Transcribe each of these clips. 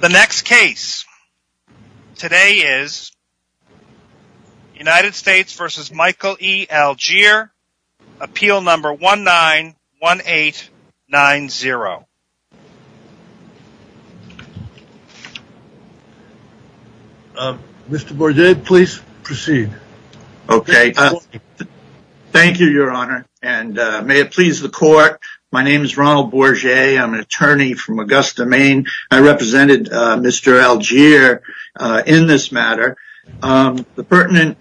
The next case today is United States v. Michael E. Algiere, appeal number 191890. Mr. Bourget, please proceed. Okay. Thank you, your honor, and may it please the court, my name is Ronald Bourget. I'm an attorney from Augusta, Maine. I represented Mr. Algiere in this matter. The pertinent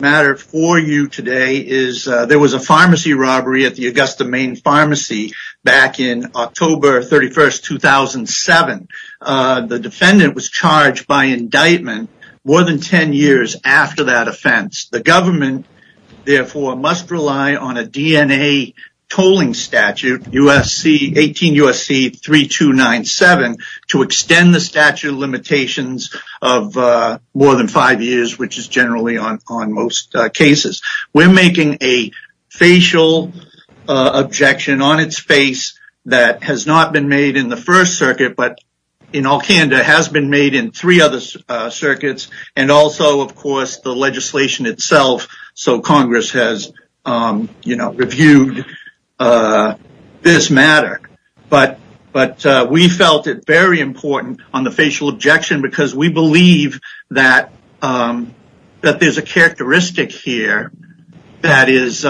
matter for you today is there was a pharmacy robbery at the Augusta, Maine pharmacy back in October 31st, 2007. The defendant was charged by indictment more than 10 years after that offense. The government therefore must rely on a DNA tolling statute, 18 U.S.C. 3297, to extend the statute of limitations of more than five years, which is generally on most cases. We're making a facial objection on its face that has not been made in the first circuit, but in all candor has been made in three other circuits and also, of course, the legislation itself. So Congress has, you know, reviewed this matter. But we felt it very important on the facial objection because we believe that there's a characteristic here that is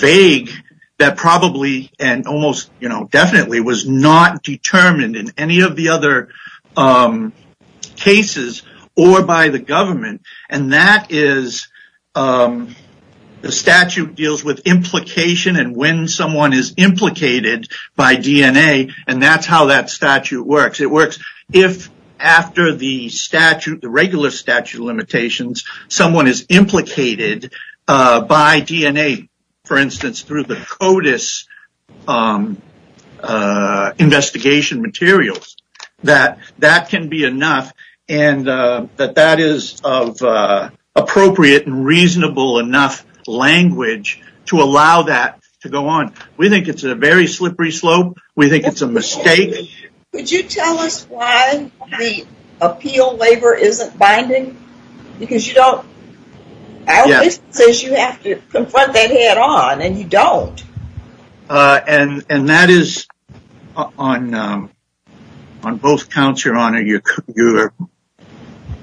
vague. That probably and almost, you know, definitely was not determined in any of the other cases or by the government. And that is the statute deals with implication and when someone is implicated by DNA. And that's how that statute works. It works if after the statute, the regular statute of limitations, someone is implicated by DNA, for instance, through the CODIS investigation materials, that that can be enough and that that is of appropriate and reasonable enough language to allow that to go on. We think it's a very slippery slope. We think it's a mistake. Could you tell us why the appeal waiver isn't binding? Because you don't. It says you have to confront that head on and you don't. And that is on both counts, Your Honor. You're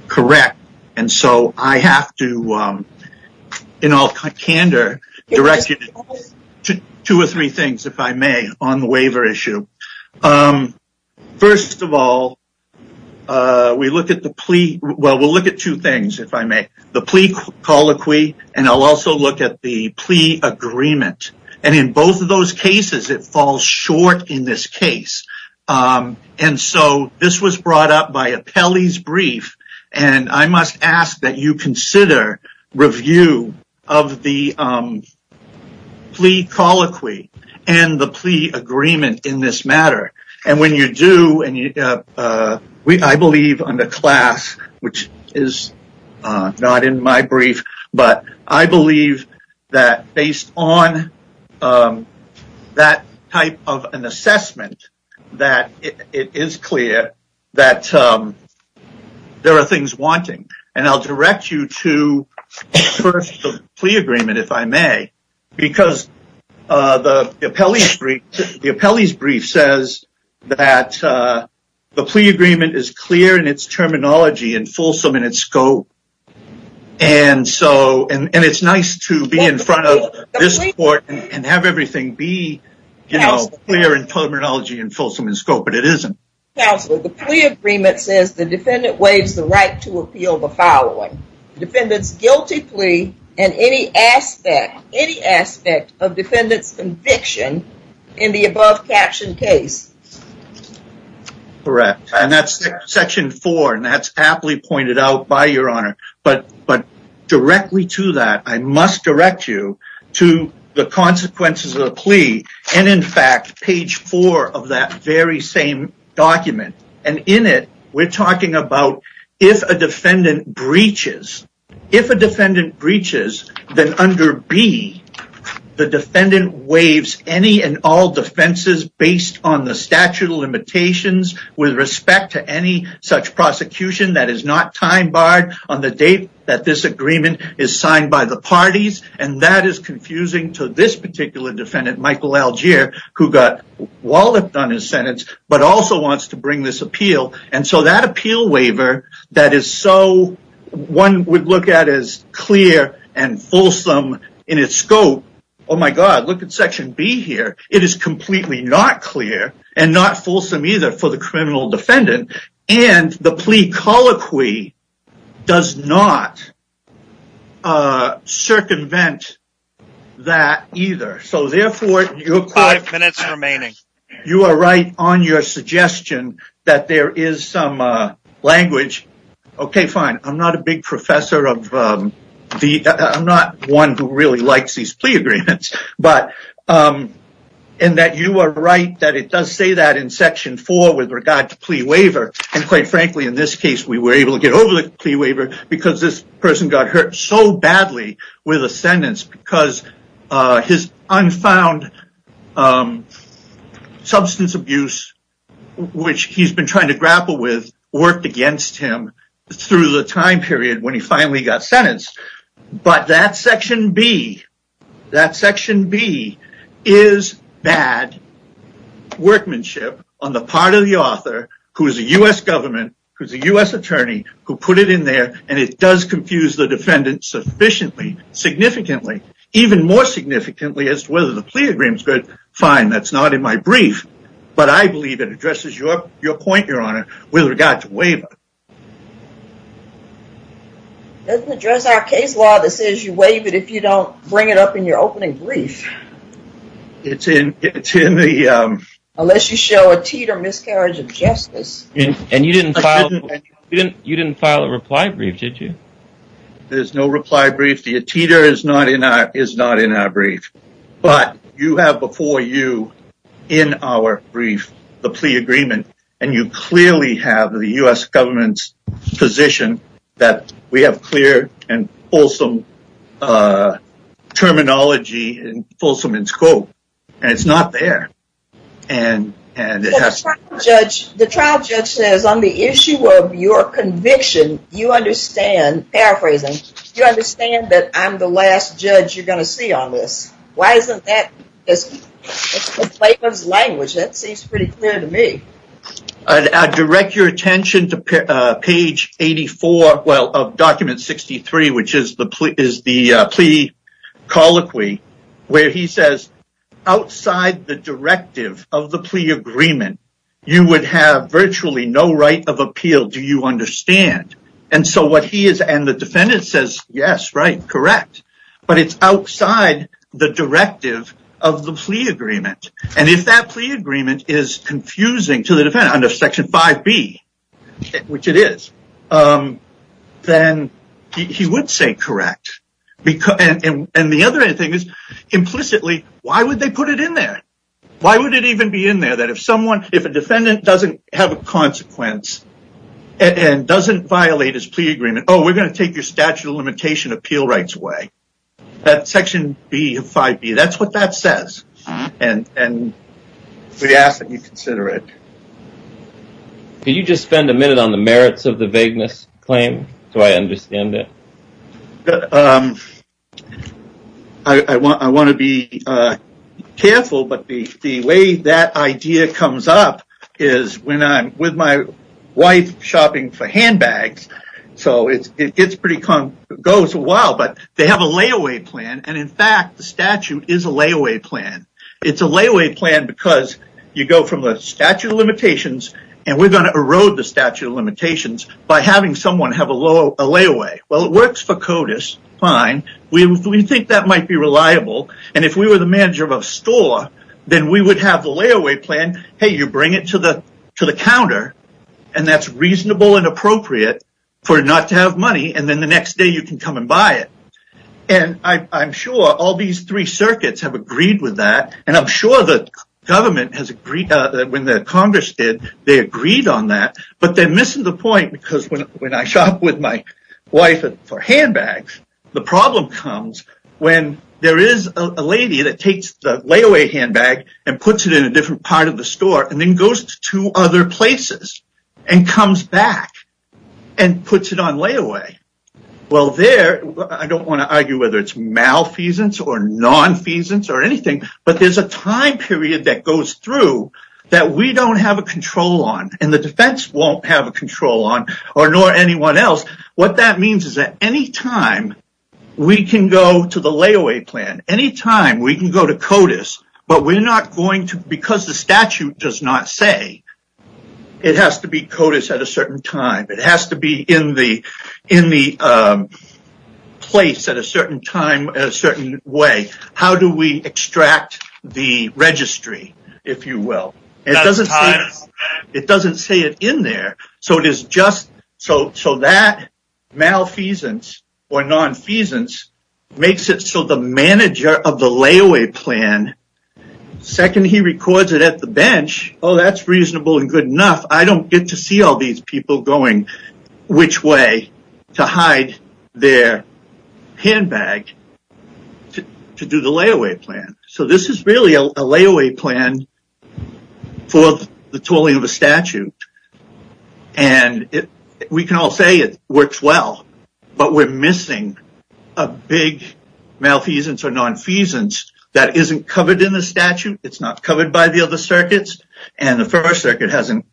correct. And so I have to, in all candor, direct you to two or three things, if I may, on the waiver issue. First of all, we look at the plea. Well, we'll look at two things, if I may. The plea colloquy and I'll also look at the plea agreement. And in both of those cases, it falls short in this case. And so this was brought up by Apelli's brief. And I must ask that you consider review of the plea colloquy and the plea agreement in this matter. And when you do and I believe on the class, which is not in my brief, but I believe that based on that type of an assessment, that it is clear that there are things wanting and I'll direct you to the plea agreement, if I may. Because the Apelli's brief says that the plea agreement is clear in its terminology and fulsome in its scope. And so and it's nice to be in front of this court and have everything be clear in terminology and fulsome in scope, but it isn't. Counselor, the plea agreement says the defendant waives the right to appeal the following. Defendant's guilty plea and any aspect, any aspect of defendant's conviction in the above captioned case. Correct, and that's section four and that's happily pointed out by your honor. But directly to that, I must direct you to the consequences of the plea. And in fact, page four of that very same document. And in it, we're talking about if a defendant breaches, if a defendant breaches, then under B, the defendant waives any and all defenses based on the statute of limitations with respect to any such prosecution. That is not time barred on the date that this agreement is signed by the parties. And that is confusing to this particular defendant, Michael Algier, who got walloped on his sentence, but also wants to bring this appeal. And so that appeal waiver that is so one would look at as clear and fulsome in its scope. Oh, my God. Look at Section B here. It is completely not clear and not fulsome either for the criminal defendant. And the plea colloquy does not circumvent that either. So therefore, you're five minutes remaining. You are right on your suggestion that there is some language. OK, fine. I'm not a big professor of the I'm not one who really likes these plea agreements. But and that you are right that it does say that in Section four with regard to plea waiver. And quite frankly, in this case, we were able to get over the plea waiver because this person got hurt so badly with a sentence because his unfound substance abuse, which he's been trying to grapple with, worked against him through the time period when he finally got sentenced. But that Section B, that Section B is bad workmanship on the part of the author who is a U.S. government, who's a U.S. attorney, who put it in there. And it does confuse the defendant sufficiently, significantly, even more significantly as to whether the plea agreement is good. Fine. That's not in my brief. But I believe it addresses your point, your honor, with regard to waiver. Doesn't address our case law that says you waive it if you don't bring it up in your opening brief. It's in it's in the unless you show a teeter miscarriage of justice. And you didn't you didn't you didn't file a reply brief, did you? There's no reply brief. The teeter is not in our is not in our brief. But you have before you in our brief, the plea agreement. And you clearly have the U.S. government's position that we have clear and wholesome terminology and wholesome in scope. And it's not there. And and the trial judge says on the issue of your conviction, you understand. Paraphrasing. You understand that I'm the last judge you're going to see on this. Why isn't that the language that seems pretty clear to me? I direct your attention to page 84. Well, of document 63, which is the is the plea colloquy where he says outside the directive of the plea agreement, you would have virtually no right of appeal. Do you understand? And so what he is and the defendant says, yes, right. Correct. But it's outside the directive of the plea agreement. And if that plea agreement is confusing to the defendant under Section 5B, which it is, then he would say correct. And the other thing is implicitly, why would they put it in there? Why would it even be in there that if someone if a defendant doesn't have a consequence and doesn't violate his plea agreement? Oh, we're going to take your statute of limitation appeal rights way. That Section B of 5B, that's what that says. And we ask that you consider it. Can you just spend a minute on the merits of the vagueness claim? Do I understand it? I want I want to be careful, but the way that idea comes up is when I'm with my wife shopping for handbags. So it's it's pretty goes a while, but they have a layaway plan. And in fact, the statute is a layaway plan. It's a layaway plan because you go from the statute of limitations and we're going to erode the statute of limitations by having someone have a low layaway. Well, it works for CODIS. Fine. We think that might be reliable. And if we were the manager of a store, then we would have the layaway plan. Hey, you bring it to the to the counter and that's reasonable and appropriate for not to have money. And then the next day you can come and buy it. And I'm sure all these three circuits have agreed with that. And I'm sure the government has agreed that when the Congress did, they agreed on that. But they're missing the point, because when I shop with my wife for handbags, the problem comes when there is a lady that takes the layaway handbag and puts it in a different part of the store and then goes to other places and comes back and puts it on layaway. Well, there I don't want to argue whether it's malfeasance or nonfeasance or anything, but there's a time period that goes through that we don't have a control on and the defense won't have a control on or nor anyone else. What that means is that any time we can go to the layaway plan, any time we can go to CODIS, but we're not going to because the statute does not say it has to be CODIS at a certain time. It has to be in the in the place at a certain time, a certain way. How do we extract the registry, if you will? It doesn't say it in there. So it is just so so that malfeasance or nonfeasance makes it so the manager of the layaway plan. Second, he records it at the bench. Oh, that's reasonable and good enough. I don't get to see all these people going which way to hide their handbag to do the layaway plan. So this is really a layaway plan for the tooling of a statute. And we can all say it works well, but we're missing a big malfeasance or nonfeasance that isn't covered in the statute. It's not covered by the other circuits. And the first circuit hasn't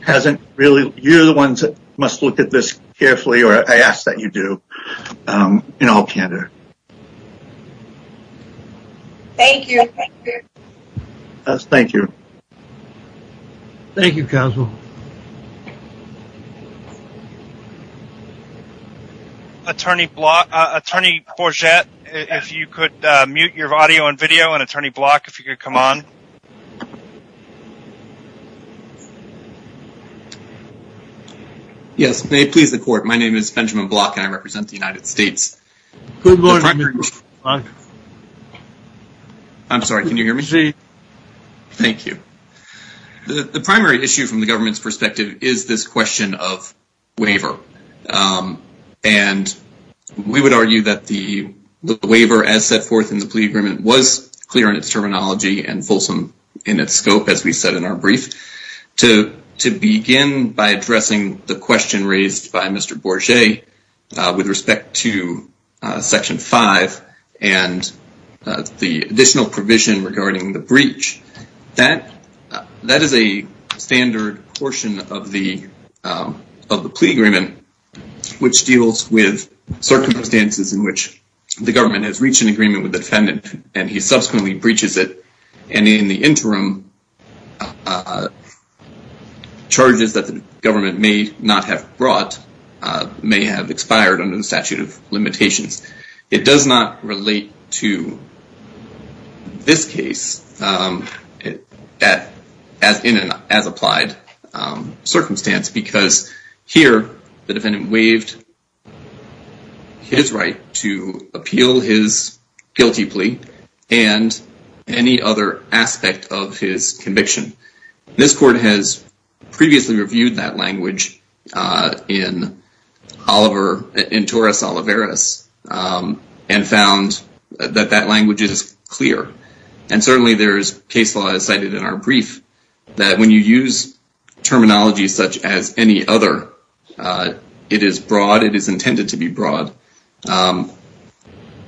hasn't really. You're the ones that must look at this carefully, or I ask that you do in all candor. Thank you. Thank you. Thank you. Thank you. Attorney Block, attorney for jet. If you could mute your audio and video and attorney block if you could come on. Yes, may please the court. My name is Benjamin block and I represent the United States. Good morning. I'm sorry. Can you hear me? Thank you. The primary issue from the government's perspective is this question of waiver. And we would argue that the waiver as set forth in the plea agreement was clear in its terminology and fulsome in its scope, as we said in our brief, to begin by addressing the question raised by Mr. Borgia with respect to section five That is a standard portion of the plea agreement, which deals with circumstances in which the government has reached an agreement with the defendant, and he subsequently breaches it. And in the interim, charges that the government may not have brought may have expired under the statute of limitations. It does not relate to this case as in an as applied circumstance, because here the defendant waived his right to appeal his guilty plea and any other aspect of his conviction. This court has previously reviewed that language in Oliver, in Torres Oliveras and found that that language is clear. And certainly there is case law cited in our brief that when you use terminology such as any other, it is broad. It is intended to be broad. So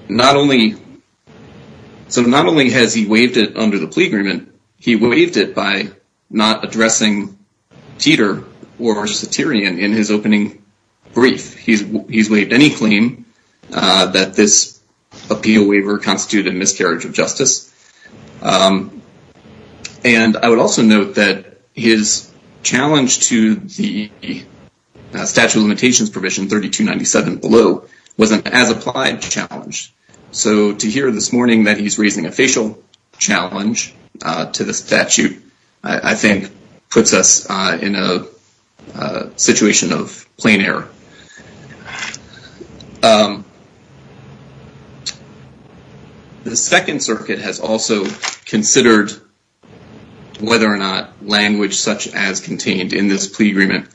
not only has he waived it under the plea agreement, he waived it by not addressing Teeter or Cetirion in his opening brief. He's waived any claim that this appeal waiver constituted a miscarriage of justice. And I would also note that his challenge to the statute of limitations provision 3297 below was an as applied challenge. So to hear this morning that he's raising a facial challenge to the statute, I think puts us in a situation of plain error. The Second Circuit has also considered whether or not language such as contained in this plea agreement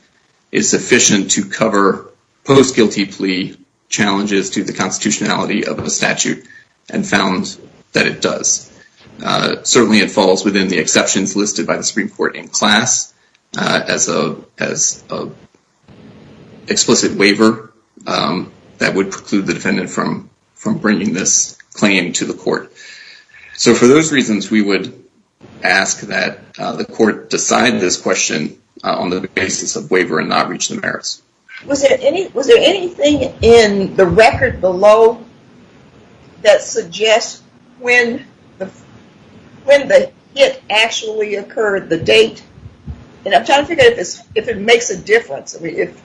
is sufficient to cover post guilty plea challenges to the constitutionality of a statute and found that it does. Certainly it falls within the exceptions listed by the Supreme Court in class as a explicit waiver that would preclude the defendant from bringing this claim to the court. So for those reasons, we would ask that the court decide this question on the basis of waiver and not reach the merits. Was there anything in the record below that suggests when the hit actually occurred, the date? And I'm trying to figure out if it makes a difference. If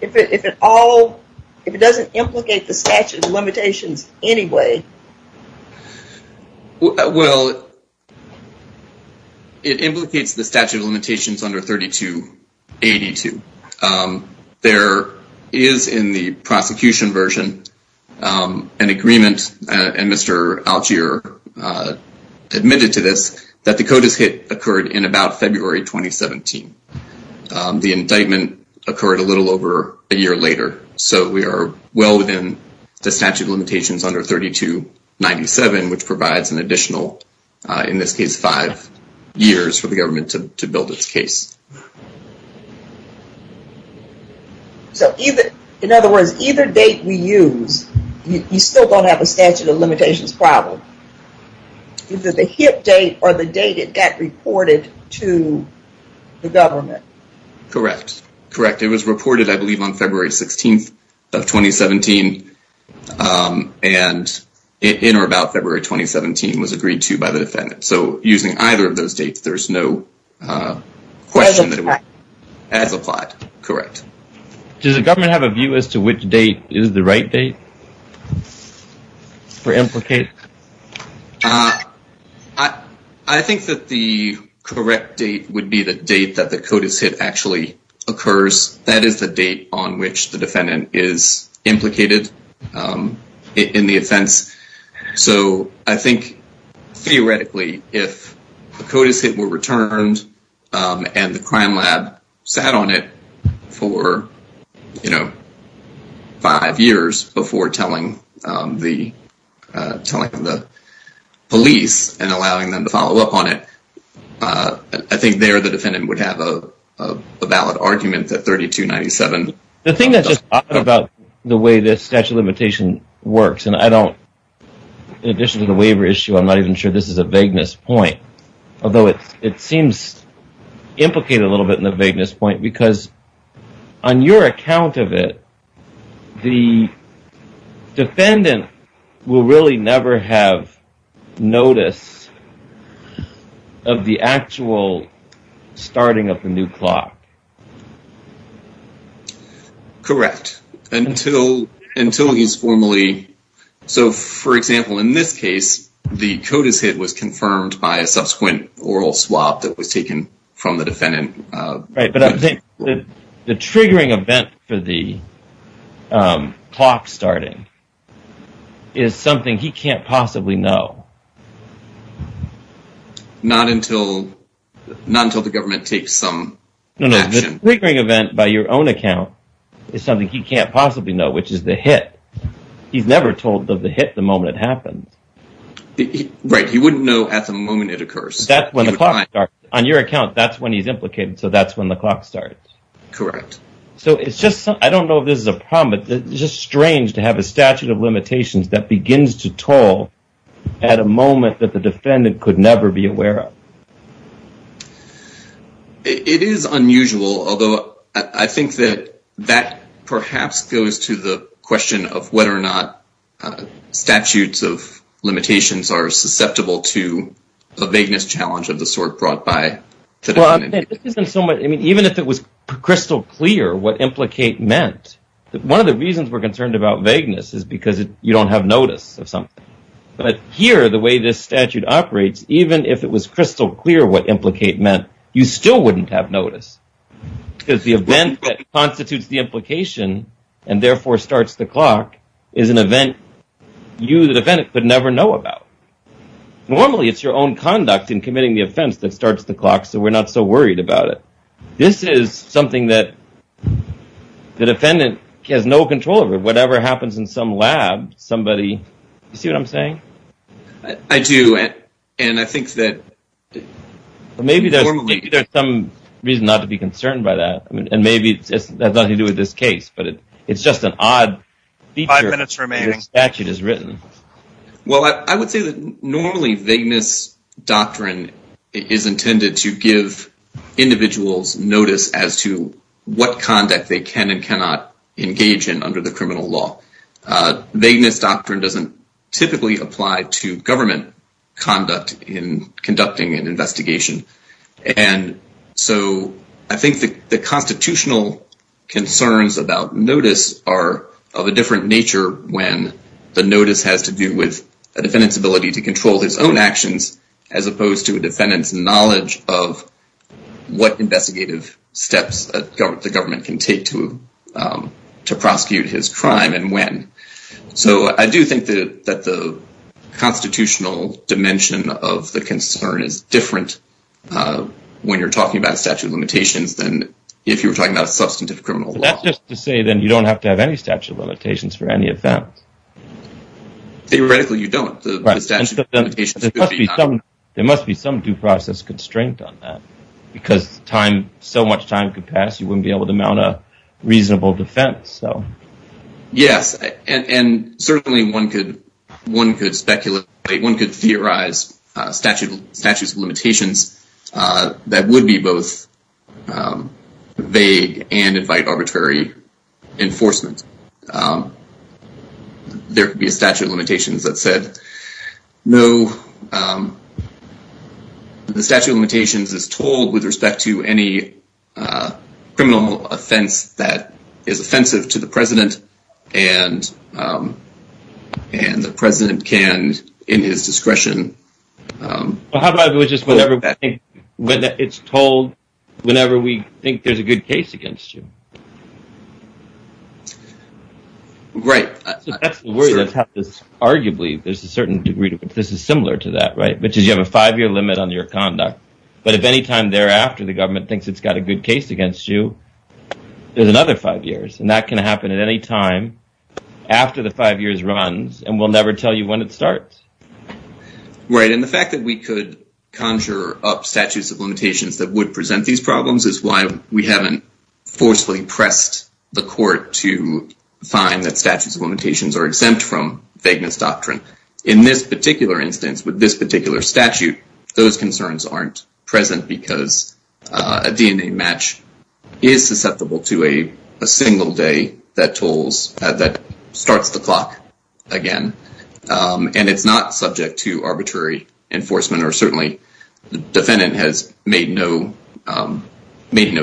it doesn't implicate the statute of limitations anyway. Well, it implicates the statute of limitations under 3282. There is in the prosecution version an agreement, and Mr. Algear admitted to this, that the CODIS hit occurred in about February 2017. The indictment occurred a little over a year later. So we are well within the statute of limitations under 3297, which provides an additional, in this case, five years for the government to build its case. So in other words, either date we use, you still don't have a statute of limitations problem. Either the hit date or the date it got reported to the government. Correct. Correct. It was reported, I believe, on February 16th of 2017 and in or about February 2017 was agreed to by the defendant. So using either of those dates, there's no question that it was as applied. Correct. Does the government have a view as to which date is the right date for implicate? I think that the correct date would be the date that the CODIS hit actually occurs. That is the date on which the defendant is implicated in the offense. So I think, theoretically, if the CODIS hit were returned and the crime lab sat on it for, you know, five years before telling the police and allowing them to follow up on it, I think there the defendant would have a valid argument that 3297. The thing that's just odd about the way this statute of limitation works, and I don't, in addition to the waiver issue, I'm not even sure this is a vagueness point, although it seems implicated a little bit in the vagueness point, because on your account of it, the defendant will really never have notice of the actual starting of the new clock. Correct. Until he's formally, so for example, in this case, the CODIS hit was confirmed by a subsequent oral swap that was taken from the defendant. Right, but I think the triggering event for the clock starting is something he can't possibly know. Not until the government takes some action. No, no, the triggering event, by your own account, is something he can't possibly know, which is the hit. He's never told of the hit the moment it happened. Right, he wouldn't know at the moment it occurs. That's when the clock starts. On your account, that's when he's implicated, so that's when the clock starts. Correct. I don't know if this is a problem, but it's just strange to have a statute of limitations that begins to toll at a moment that the defendant could never be aware of. It is unusual, although I think that that perhaps goes to the question of whether or not statutes of limitations are susceptible to a vagueness challenge of the sort brought by the defendant. Even if it was crystal clear what implicate meant, one of the reasons we're concerned about vagueness is because you don't have notice of something. But here, the way this statute operates, even if it was crystal clear what implicate meant, you still wouldn't have notice. Because the event that constitutes the implication, and therefore starts the clock, is an event you, the defendant, could never know about. Normally, it's your own conduct in committing the offense that starts the clock, so we're not so worried about it. This is something that the defendant has no control over. Whatever happens in some lab, somebody... Do you see what I'm saying? I do, and I think that... Maybe there's some reason not to be concerned by that. And maybe it has nothing to do with this case, but it's just an odd feature that this statute has written. Well, I would say that normally vagueness doctrine is intended to give individuals notice as to what conduct they can and cannot engage in under the criminal law. Vagueness doctrine doesn't typically apply to government conduct in conducting an investigation. And so, I think the constitutional concerns about notice are of a different nature when the notice has to do with a defendant's ability to control his own actions, as opposed to a defendant's knowledge of what investigative steps the government can take to prosecute his crime and when. So, I do think that the constitutional dimension of the concern is different when you're talking about statute of limitations than if you were talking about a substantive criminal law. That's just to say that you don't have to have any statute of limitations for any offense. Theoretically, you don't. There must be some due process constraint on that, because so much time could pass, you wouldn't be able to mount a reasonable defense. Yes, and certainly one could theorize statutes of limitations that would be both vague and invite arbitrary enforcement. There could be a statute of limitations that said, no, the statute of limitations is told with respect to any criminal offense that is offensive to the president, and the president can, in his discretion... How about it was just whenever it's told whenever we think there's a good case against you? Right. Arguably, there's a certain degree to which this is similar to that, right? Which is you have a five-year limit on your conduct, but if any time thereafter the government thinks it's got a good case against you, there's another five years. And that can happen at any time after the five years runs, and we'll never tell you when it starts. Right, and the fact that we could conjure up statutes of limitations that would present these problems is why we haven't forcefully pressed the court to find that statutes of limitations are exempt from vagueness doctrine. In this particular instance, with this particular statute, those concerns aren't present because a DNA match is susceptible to a single day that starts the clock again. And it's not subject to arbitrary enforcement, or certainly the defendant has made no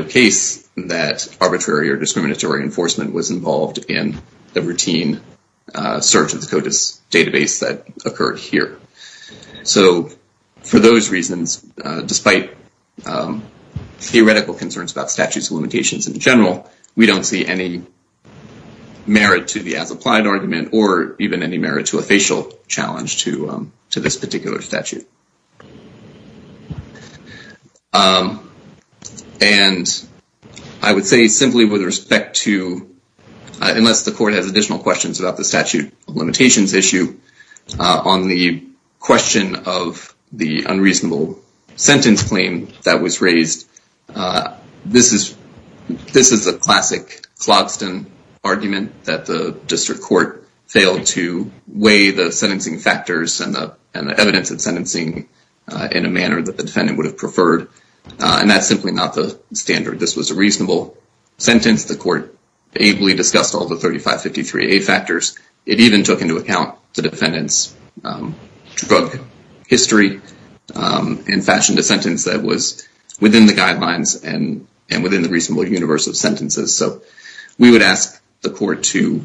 case that arbitrary or discriminatory enforcement was involved in the routine search of the CODIS database that occurred here. So, for those reasons, despite theoretical concerns about statutes of limitations in general, we don't see any merit to the as-applied argument or even any merit to a facial challenge to this particular statute. And I would say simply with respect to, unless the court has additional questions about the statute of limitations issue, on the question of the unreasonable sentence claim that was raised, this is a classic Clogston argument that the district court failed to weigh the sentencing factors and the evidence of sentencing. In a manner that the defendant would have preferred, and that's simply not the standard. This was a reasonable sentence. The court ably discussed all the 3553A factors. It even took into account the defendant's drug history and fashioned a sentence that was within the guidelines and within the reasonable universe of sentences. We would ask the court to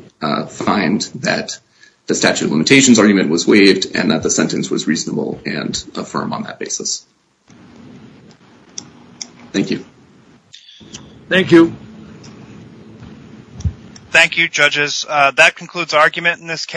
find that the statute of limitations argument was waived and that the sentence was reasonable and affirm on that basis. Thank you. Thank you. Thank you, judges. That concludes argument in this case.